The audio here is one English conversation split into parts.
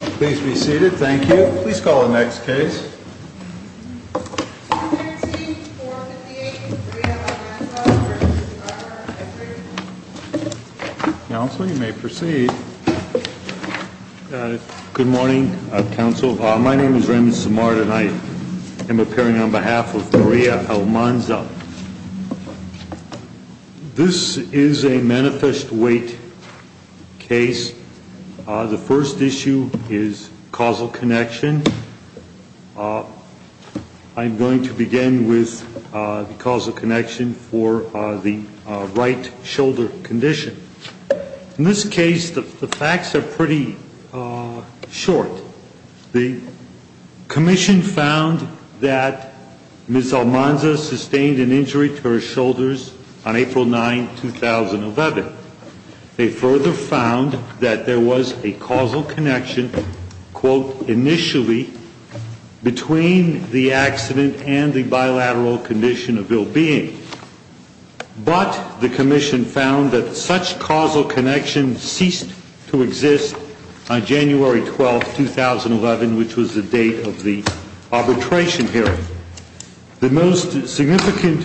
Please be seated. Thank you. Please call the next case. 213-458 Maria Almanza v. Barber, I.C. Counsel, you may proceed. Good morning, counsel. My name is Raymond Simard, and I am appearing on behalf of Maria Almanza. This is a manifest weight case. The first issue is causal connection. I'm going to begin with the causal connection for the right shoulder condition. In this case, the facts are pretty short. The commission found that Ms. Almanza sustained an injury to her shoulders on April 9, 2011. They further found that there was a causal connection, quote, initially between the accident and the bilateral condition of ill-being. But the commission found that such causal connection ceased to exist on January 12, 2011, which was the date of the arbitration hearing. The most significant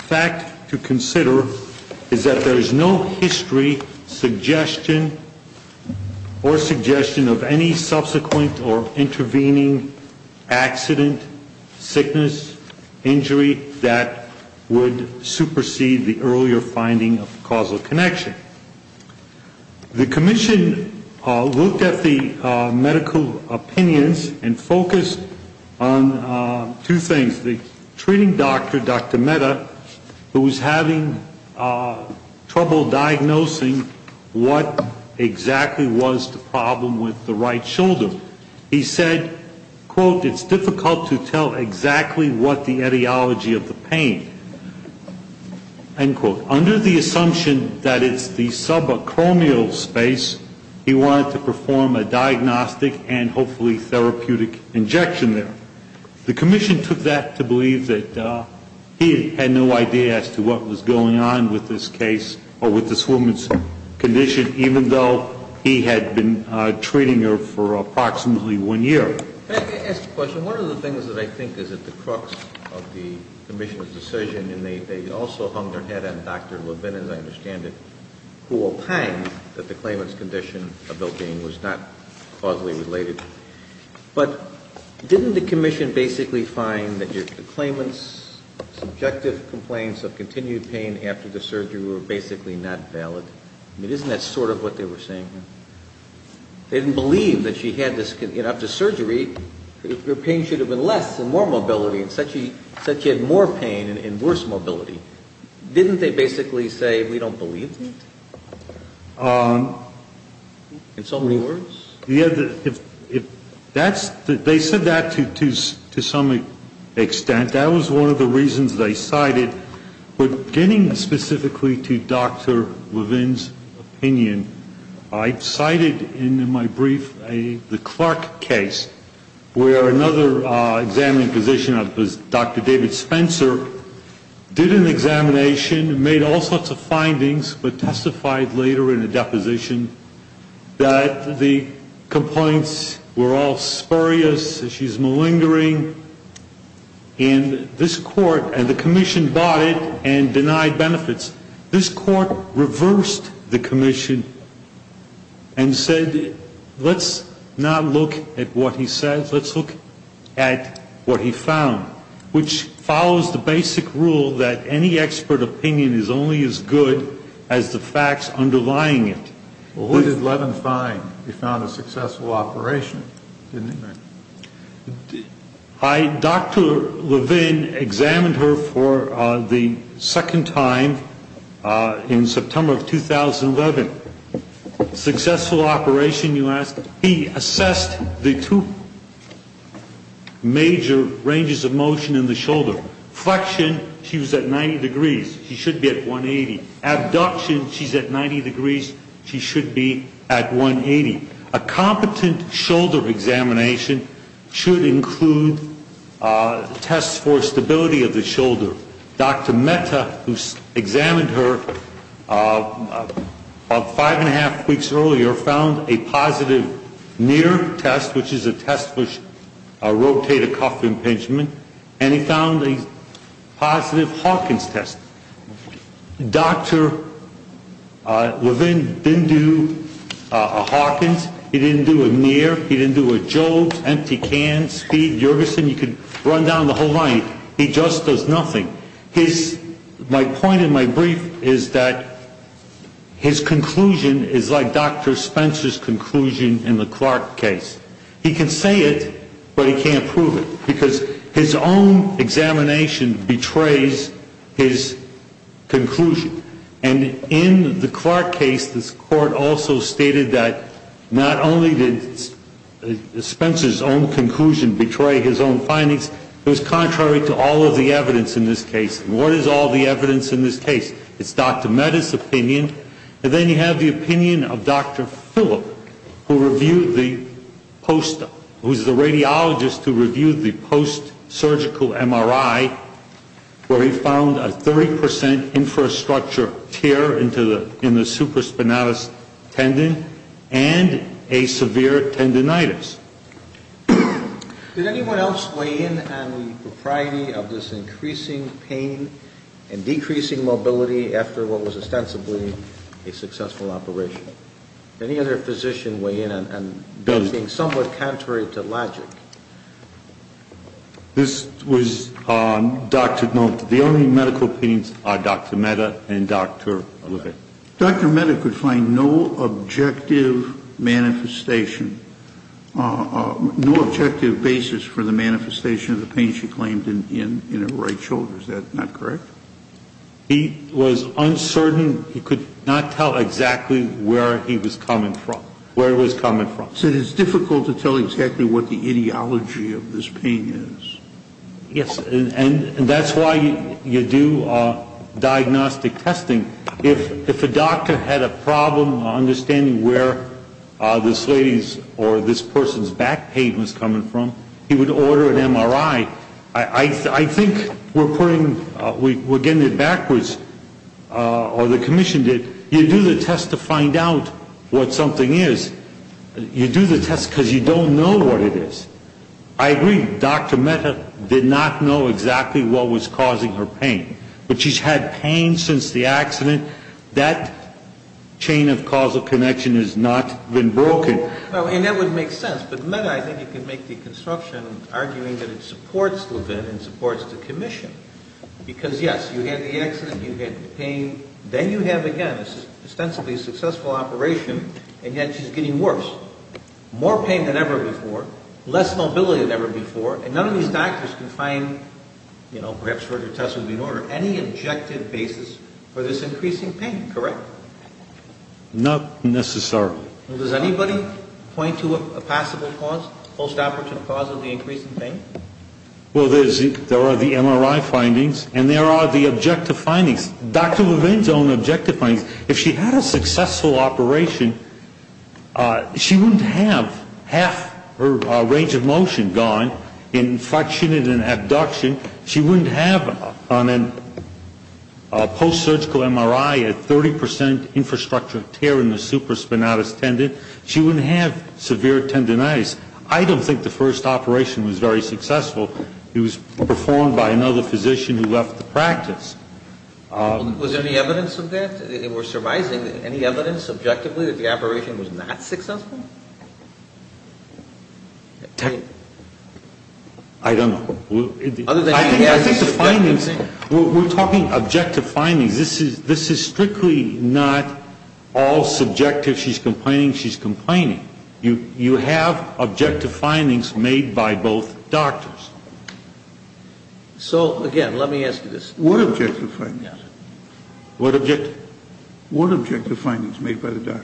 fact to consider is that there is no history, suggestion, or suggestion of any subsequent or intervening accident, sickness, injury, that would supersede the earlier finding of causal connection. The commission looked at the medical opinions and focused on two things. One is the treating doctor, Dr. Mehta, who was having trouble diagnosing what exactly was the problem with the right shoulder. He said, quote, it's difficult to tell exactly what the etiology of the pain, end quote. Under the assumption that it's the subacromial space, he wanted to perform a diagnostic and hopefully therapeutic injection there. The commission took that to believe that he had no idea as to what was going on with this case or with this woman's condition, even though he had been treating her for approximately one year. Can I ask a question? One of the things that I think is at the crux of the commission's decision, and they also hung their head on Dr. Levin, as I understand it, who opined that the claimant's condition of ill-being was not causally related. But didn't the commission basically find that the claimant's subjective complaints of continued pain after the surgery were basically not valid? I mean, isn't that sort of what they were saying? They didn't believe that she had this. After surgery, her pain should have been less and more mobility, and said she had more pain and worse mobility. Didn't they basically say, we don't believe that? In so many words? They said that to some extent. That was one of the reasons they cited. But getting specifically to Dr. Levin's opinion, I cited in my brief the Clark case, where another examining physician, Dr. David Spencer, did an examination, made all sorts of findings, but testified later in a deposition that the complaints were all spurious, that she's malingering. And this court, and the commission bought it and denied benefits. This court reversed the commission and said, let's not look at what he said. Let's look at what he found. Which follows the basic rule that any expert opinion is only as good as the facts underlying it. What did Levin find? He found a successful operation, didn't he? Dr. Levin examined her for the second time in September of 2011. Successful operation, you ask? He assessed the two major ranges of motion in the shoulder. Flexion, she was at 90 degrees. She should be at 180. Abduction, she's at 90 degrees. She should be at 180. A competent shoulder examination should include tests for stability of the shoulder. Dr. Metta, who examined her about five and a half weeks earlier, found a positive near test, which is a test for rotator cuff impingement, and he found a positive Hawkins test. Dr. Levin didn't do a Hawkins. He didn't do a near. He didn't do a Jobe's, empty cans, speed, Jorgensen. You could run down the whole line. He just does nothing. My point in my brief is that his conclusion is like Dr. Spencer's conclusion in the Clark case. He can say it, but he can't prove it because his own examination betrays his conclusion. And in the Clark case, the court also stated that not only did Spencer's own conclusion betray his own findings, it was contrary to all of the evidence in this case. And what is all the evidence in this case? It's Dr. Metta's opinion. And then you have the opinion of Dr. Phillip, who reviewed the post, who's the radiologist who reviewed the post-surgical MRI where he found a 30 percent infrastructure tear in the supraspinatus tendon and a severe tendinitis. Did anyone else weigh in on the propriety of this increasing pain and decreasing mobility after what was ostensibly a successful operation? Did any other physician weigh in on those things, somewhat contrary to logic? This was Dr. Nolte. The only medical opinions are Dr. Metta and Dr. O'Leary. Dr. Metta could find no objective manifestation, no objective basis for the manifestation of the pain she claimed in her right shoulder. Is that not correct? He was uncertain. He could not tell exactly where he was coming from, where it was coming from. So it is difficult to tell exactly what the ideology of this pain is. Yes, and that's why you do diagnostic testing. If a doctor had a problem understanding where this lady's or this person's back pain was coming from, he would order an MRI. I think we're getting it backwards, or the commission did. You do the test to find out what something is. You do the test because you don't know what it is. I agree. Dr. Metta did not know exactly what was causing her pain. But she's had pain since the accident. That chain of causal connection has not been broken. And that would make sense. But, Metta, I think you could make the construction arguing that it supports Levin and supports the commission. Because, yes, you had the accident, you had the pain. Then you have, again, an ostensibly successful operation, and yet she's getting worse, more pain than ever before, less mobility than ever before. And none of these doctors can find, you know, perhaps where your test would be in order, any objective basis for this increasing pain, correct? Not necessarily. Does anybody point to a possible cause, post-operative cause of the increase in pain? Well, there are the MRI findings, and there are the objective findings. Dr. Levin's own objective findings. If she had a successful operation, she wouldn't have half her range of motion gone, inflection and abduction. She wouldn't have on a post-surgical MRI a 30 percent infrastructure tear in the supraspinatus tendon. She wouldn't have severe tendonitis. I don't think the first operation was very successful. It was performed by another physician who left the practice. Was there any evidence of that? We're survising any evidence, objectively, that the operation was not successful? I don't know. I think the findings, we're talking objective findings. This is strictly not all subjective, she's complaining, she's complaining. You have objective findings made by both doctors. So, again, let me ask you this. What objective findings? What objective? What objective findings made by the doctors?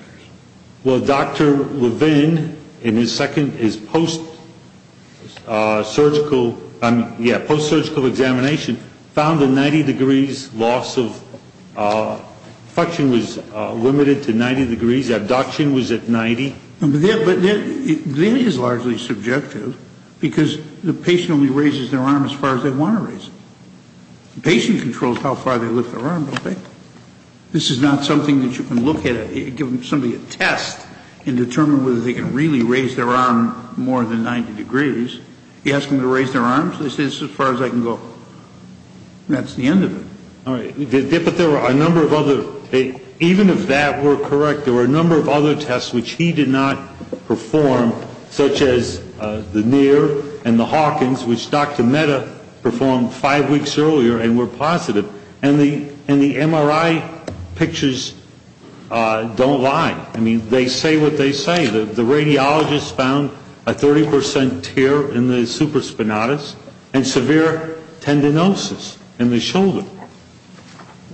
Well, Dr. Levin, in his second, his post-surgical, yeah, post-surgical examination, found a 90 degrees loss of, inflection was limited to 90 degrees, abduction was at 90. But that is largely subjective, because the patient only raises their arm as far as they want to raise it. The patient controls how far they lift their arm, don't they? This is not something that you can look at, give somebody a test, and determine whether they can really raise their arm more than 90 degrees. You ask them to raise their arms, they say this is as far as I can go. And that's the end of it. All right. But there were a number of other, even if that were correct, there were a number of other tests which he did not perform, such as the NEAR and the Hawkins, which Dr. Mehta performed five weeks earlier and were positive. And the MRI pictures don't lie. I mean, they say what they say. The radiologists found a 30 percent tear in the supraspinatus and severe tendinosis in the shoulder.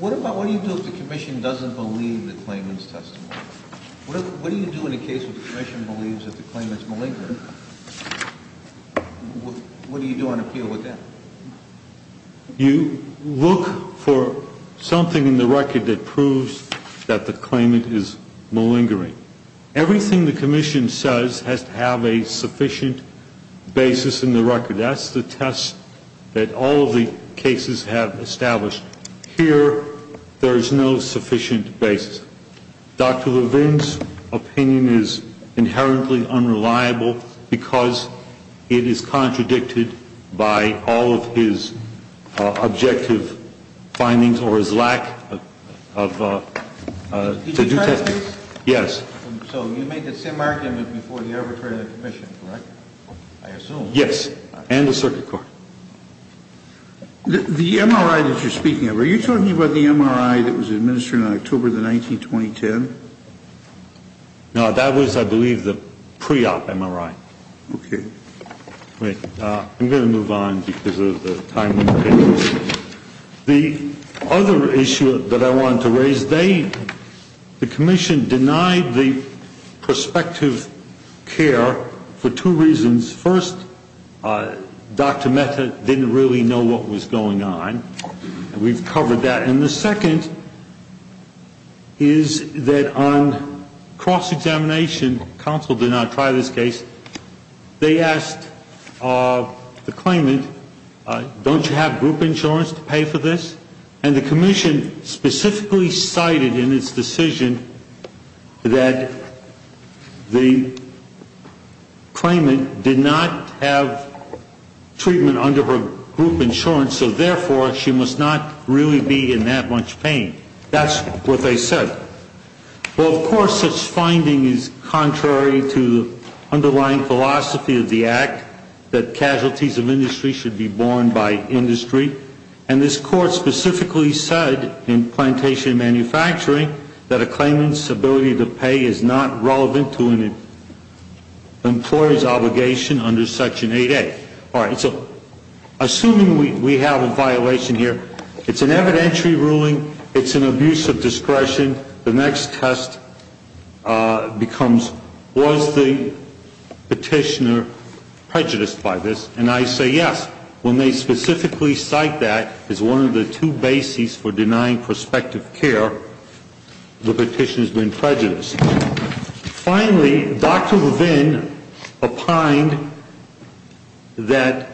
What do you do if the commission doesn't believe the claimant's testimony? What do you do in the case if the commission believes that the claimant's malingering? What do you do on appeal with that? You look for something in the record that proves that the claimant is malingering. Everything the commission says has to have a sufficient basis in the record. That's the test that all of the cases have established. Here, there is no sufficient basis. Dr. Levine's opinion is inherently unreliable because it is contradicted by all of his objective findings or his lack to do testing. Did you try this? Yes. So you made the same argument before you ever turned to the commission, correct, I assume? Yes. And the circuit court. The MRI that you're speaking of, are you talking about the MRI that was administered in October of 1920? No, that was, I believe, the pre-op MRI. Okay. I'm going to move on because of the time limitations. The other issue that I wanted to raise, the commission denied the prospective care for two reasons. First, Dr. Mehta didn't really know what was going on. We've covered that. And the second is that on cross-examination, counsel did not try this case, they asked the claimant, don't you have group insurance to pay for this? And the commission specifically cited in its decision that the claimant did not have treatment under her group insurance, so therefore she must not really be in that much pain. That's what they said. Well, of course, such finding is contrary to the underlying philosophy of the act, that casualties of industry should be borne by industry. And this court specifically said in plantation manufacturing that a claimant's ability to pay is not relevant to an employee's obligation under Section 8A. All right, so assuming we have a violation here, it's an evidentiary ruling, it's an abuse of discretion, the next test becomes was the petitioner prejudiced by this? And I say yes. When they specifically cite that as one of the two bases for denying prospective care, the petitioner has been prejudiced. Finally, Dr. Levin opined that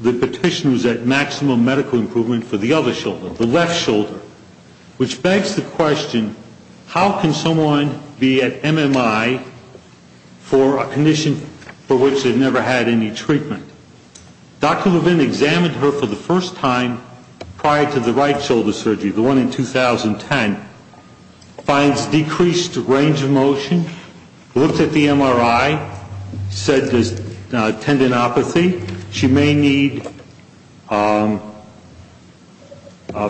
the petitioner was at maximum medical improvement for the other shoulder, the left shoulder, which begs the question, how can someone be at MMI for a condition for which they've never had any treatment? Dr. Levin examined her for the first time prior to the right shoulder surgery, the one in 2010, finds decreased range of motion, looked at the MRI, said there's tendinopathy, she may need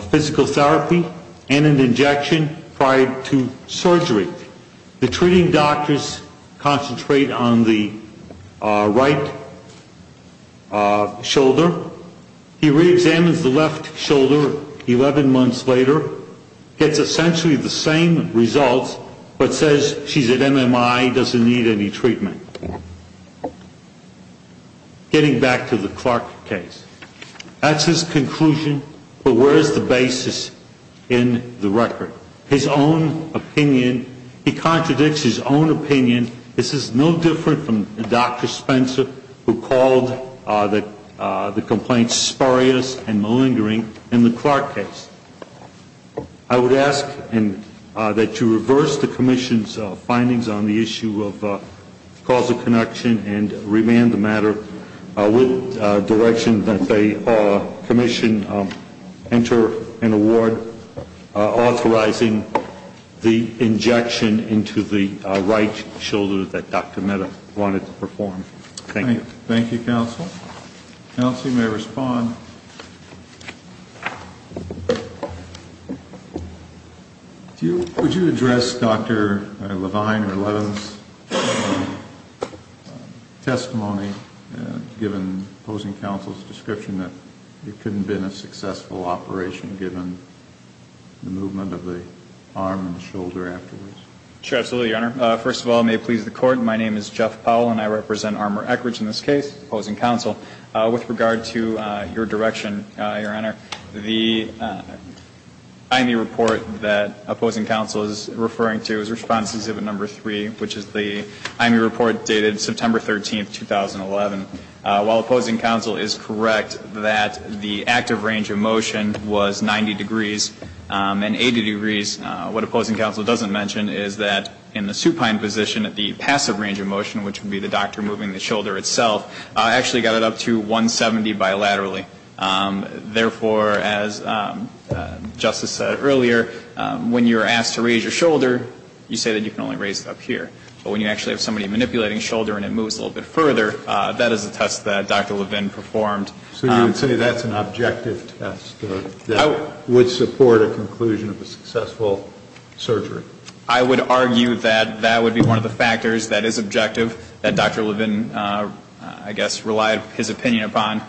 physical therapy and an injection prior to surgery. The treating doctors concentrate on the right shoulder. He reexamines the left shoulder 11 months later, gets essentially the same results, but says she's at MMI, doesn't need any treatment. Getting back to the Clark case, that's his conclusion, but where is the basis in the record? His own opinion, he contradicts his own opinion. This is no different from Dr. Spencer who called the complaints spurious and malingering in the Clark case. I would ask that you reverse the commission's findings on the issue of causal connection and remand the matter with direction that they commission, enter an award authorizing the injection into the right shoulder that Dr. Mehta wanted to perform. Thank you. Thank you, counsel. Counsel, you may respond. Would you address Dr. Levine or Levin's testimony given opposing counsel's description that it couldn't have been a successful operation given the movement of the arm and shoulder afterwards? Sure, absolutely, Your Honor. First of all, may it please the Court, my name is Jeff Powell and I represent Armour-Eckridge in this case, opposing counsel. With regard to your direction, Your Honor, the IME report that opposing counsel is referring to is response exhibit number three, which is the IME report dated September 13, 2011. While opposing counsel is correct that the active range of motion was 90 degrees and 80 degrees, what opposing counsel doesn't mention is that in the supine position at the passive range of motion, which would be the doctor moving the shoulder itself, actually got it up to 170 bilaterally. Therefore, as Justice said earlier, when you're asked to raise your shoulder, you say that you can only raise it up here. But when you actually have somebody manipulating shoulder and it moves a little bit further, that is a test that Dr. Levine performed. So you would say that's an objective test that would support a conclusion of a successful surgery? I would argue that that would be one of the factors that is objective that Dr. Levine, I guess, relied his opinion upon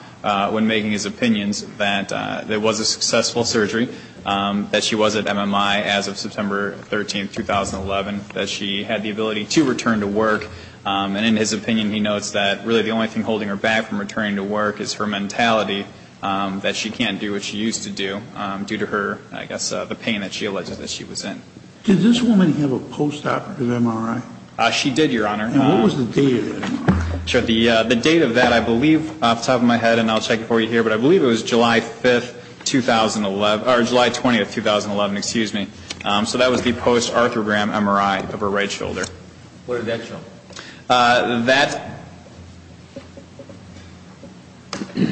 when making his opinions that it was a successful surgery, that she was at MMI as of September 13, 2011, that she had the ability to return to work. And in his opinion, he notes that really the only thing holding her back from returning to work is her mentality that she can't do what she used to do due to her, I guess, the pain that she alleged that she was in. Did this woman have a post-operative MRI? She did, Your Honor. And what was the date of the MRI? The date of that, I believe off the top of my head, and I'll check for you here, but I believe it was July 5th, 2011, or July 20th, 2011, excuse me. So that was the post-arthrogram MRI of her right shoulder. What did that show?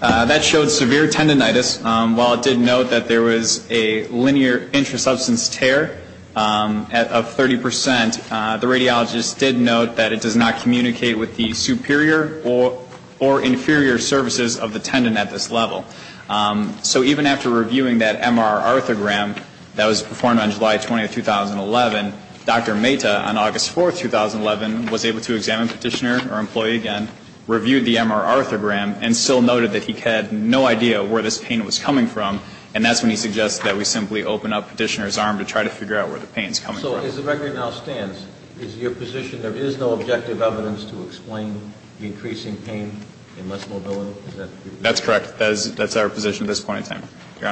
That showed severe tendonitis. While it did note that there was a linear intrasubstance tear of 30%, the radiologist did note that it does not communicate with the superior or inferior surfaces of the tendon at this level. So even after reviewing that MR arthrogram that was performed on July 20th, 2011, Dr. Mehta, on August 4th, 2011, was able to examine Petitioner, our employee again, reviewed the MR arthrogram and still noted that he had no idea where this pain was coming from, and that's when he suggests that we simply open up Petitioner's arm to try to figure out where the pain is coming from. So as the record now stands, is your position there is no objective evidence to explain the increasing pain and less mobility? Is that correct? That's correct. That's our position at this point in time, Your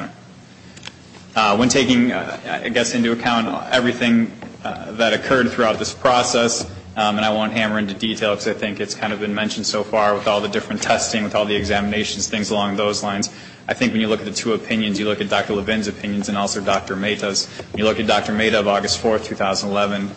Honor. When taking, I guess, into account everything that occurred throughout this process, and I won't hammer into detail because I think it's kind of been mentioned so far, with all the different testing, with all the examinations, things along those lines, I think when you look at the two opinions, you look at Dr. Levin's opinions and also Dr. Mehta's, you look at Dr. Mehta of August 4th, 2011,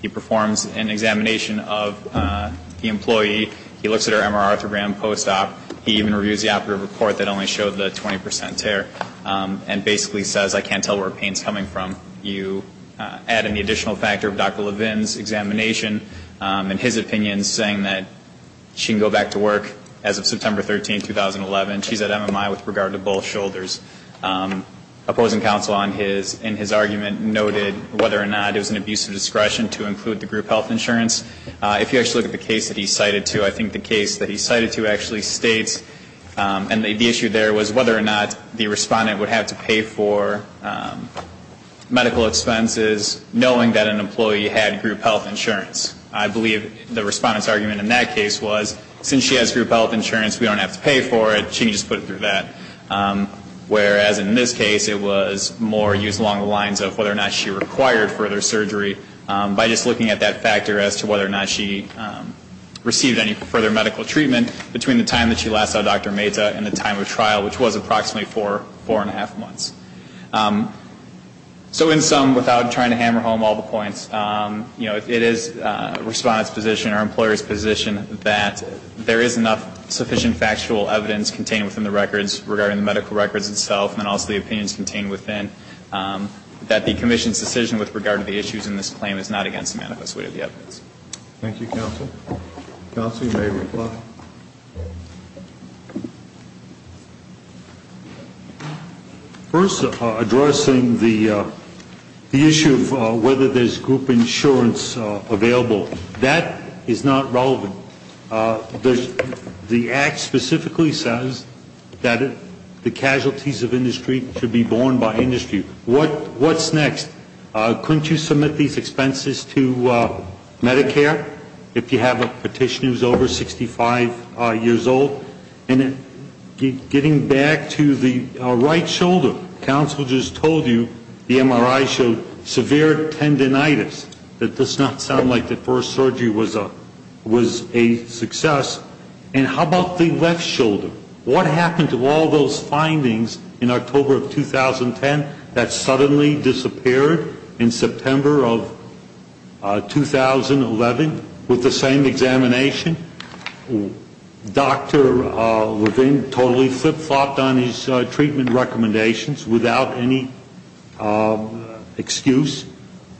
he performs an examination of the employee. He looks at her MR arthrogram post-op. He even reviews the operative report that only showed the 20 percent tear, and basically says, I can't tell where the pain is coming from. You add in the additional factor of Dr. Levin's examination and his opinion, saying that she can go back to work as of September 13th, 2011. She's at MMI with regard to both shoulders. Opposing counsel in his argument noted whether or not it was an abuse of discretion to include the group health insurance. If you actually look at the case that he cited to, I think the case that he cited to actually states, and the issue there was whether or not the respondent would have to pay for medical expenses, knowing that an employee had group health insurance. I believe the respondent's argument in that case was, since she has group health insurance, we don't have to pay for it, she can just put it through that. Whereas in this case, it was more used along the lines of whether or not she required further surgery. By just looking at that factor as to whether or not she received any further medical treatment between the time that she last saw Dr. Mehta and the time of trial, which was approximately four, four and a half months. So in sum, without trying to hammer home all the points, you know, it is the respondent's position, our employer's position, that there is enough sufficient factual evidence contained within the records regarding the medical records itself, and also the opinions contained within, that the Commission's decision with regard to the issues in this claim is not against the manifest way of the evidence. Thank you, counsel. Counsel, you may reply. First, addressing the issue of whether there's group insurance available. That is not relevant. The act specifically says that the casualties of industry should be borne by industry. What's next? Couldn't you submit these expenses to Medicare if you have a petitioner who's over 65 years old? And getting back to the right shoulder, counsel just told you the MRI showed severe tendinitis. That does not sound like the first surgery was a success. And how about the left shoulder? What happened to all those findings in October of 2010 that suddenly disappeared in September of 2011 with the same examination? Dr. Levine totally flip-flopped on his treatment recommendations without any excuse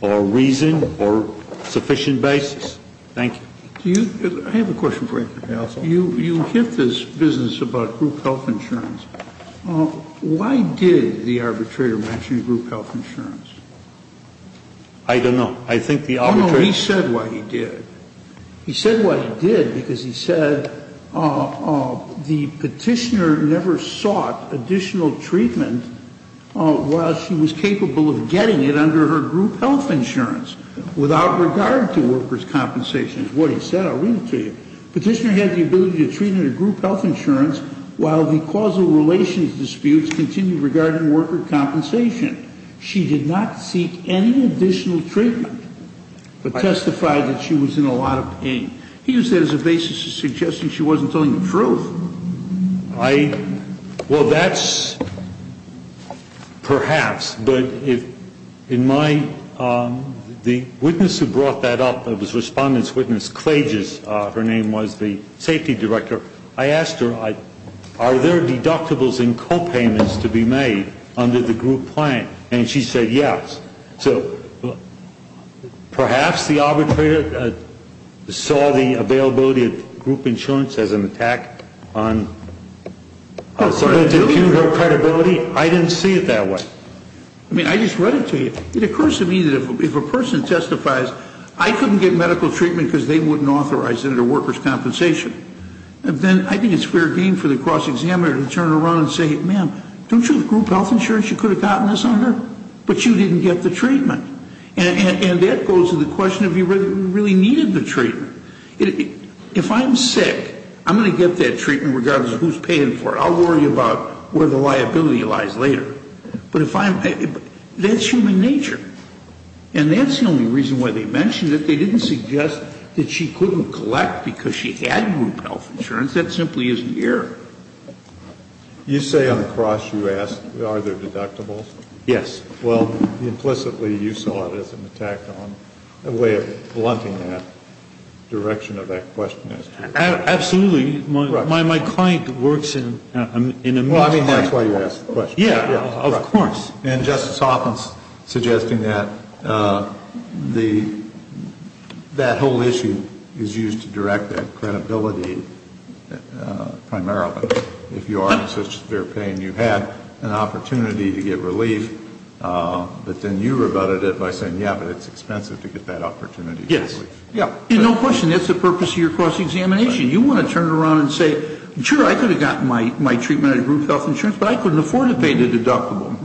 or reason or sufficient basis. Thank you. I have a question for you, counsel. You hit this business about group health insurance. Why did the arbitrator mention group health insurance? I don't know. He said why he did. He said why he did because he said the petitioner never sought additional treatment while she was capable of getting it under her group health insurance without regard to workers' compensation. That's what he said. I'll read it to you. Petitioner had the ability to treat under group health insurance while the causal relations disputes continued regarding worker compensation. She did not seek any additional treatment but testified that she was in a lot of pain. He used that as a basis for suggesting she wasn't telling the truth. I ñ well, that's perhaps. But if in my ñ the witness who brought that up, it was Respondent's Witness Klages. Her name was the safety director. I asked her, are there deductibles and copayments to be made under the group plan? And she said yes. So perhaps the arbitrator saw the availability of group insurance as an attack on her credibility. I didn't see it that way. I mean, I just read it to you. It occurs to me that if a person testifies, I couldn't get medical treatment because they wouldn't authorize it under workers' compensation. Then I think it's fair game for the cross-examiner to turn around and say, ma'am, don't you have group health insurance? You could have gotten this on her. But you didn't get the treatment. And that goes to the question of you really needed the treatment. If I'm sick, I'm going to get that treatment regardless of who's paying for it. I'll worry about where the liability lies later. But that's human nature. And that's the only reason why they mentioned it. They didn't suggest that she couldn't collect because she had group health insurance. That simply isn't here. You say on the cross you asked, are there deductibles? Yes. Well, implicitly you saw it as an attack on, a way of blunting that direction of that question. Absolutely. My client works in a ministry. Well, I mean, that's why you asked the question. Yeah, of course. And Justice Hoffman's suggesting that that whole issue is used to direct that credibility primarily. If you are in such severe pain, you have an opportunity to get relief. But then you rebutted it by saying, yeah, but it's expensive to get that opportunity. Yes. No question. That's the purpose of your cross-examination. You want to turn around and say, sure, I could have gotten my treatment at a group health insurance, but I couldn't afford to pay the deductible.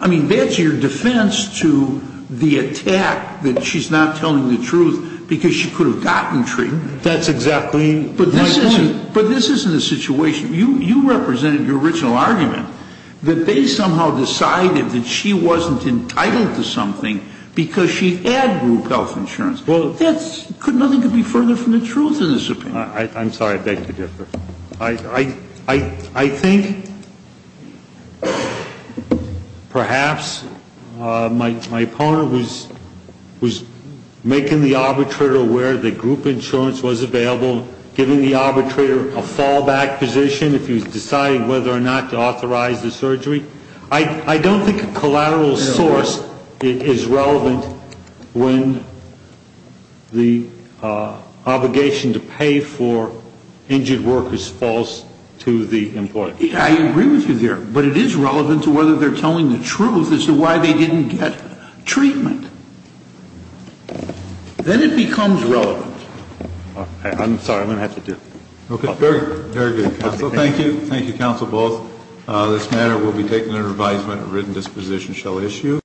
I mean, that's your defense to the attack that she's not telling the truth because she could have gotten treatment. That's exactly my point. But this isn't the situation. You represented your original argument that they somehow decided that she wasn't entitled to something because she had group health insurance. Well, that's nothing could be further from the truth in this opinion. I'm sorry. I beg to differ. I think perhaps my opponent was making the arbitrator aware that group insurance was available, giving the arbitrator a fallback position if he was deciding whether or not to authorize the surgery. I don't think a collateral source is relevant when the obligation to pay for injured workers falls to the employer. I agree with you there. But it is relevant to whether they're telling the truth as to why they didn't get treatment. Then it becomes relevant. I'm sorry. I'm going to have to do it. Okay. Very good. Thank you. Thank you, counsel, both. This matter will be taken under advisement. A written disposition shall issue.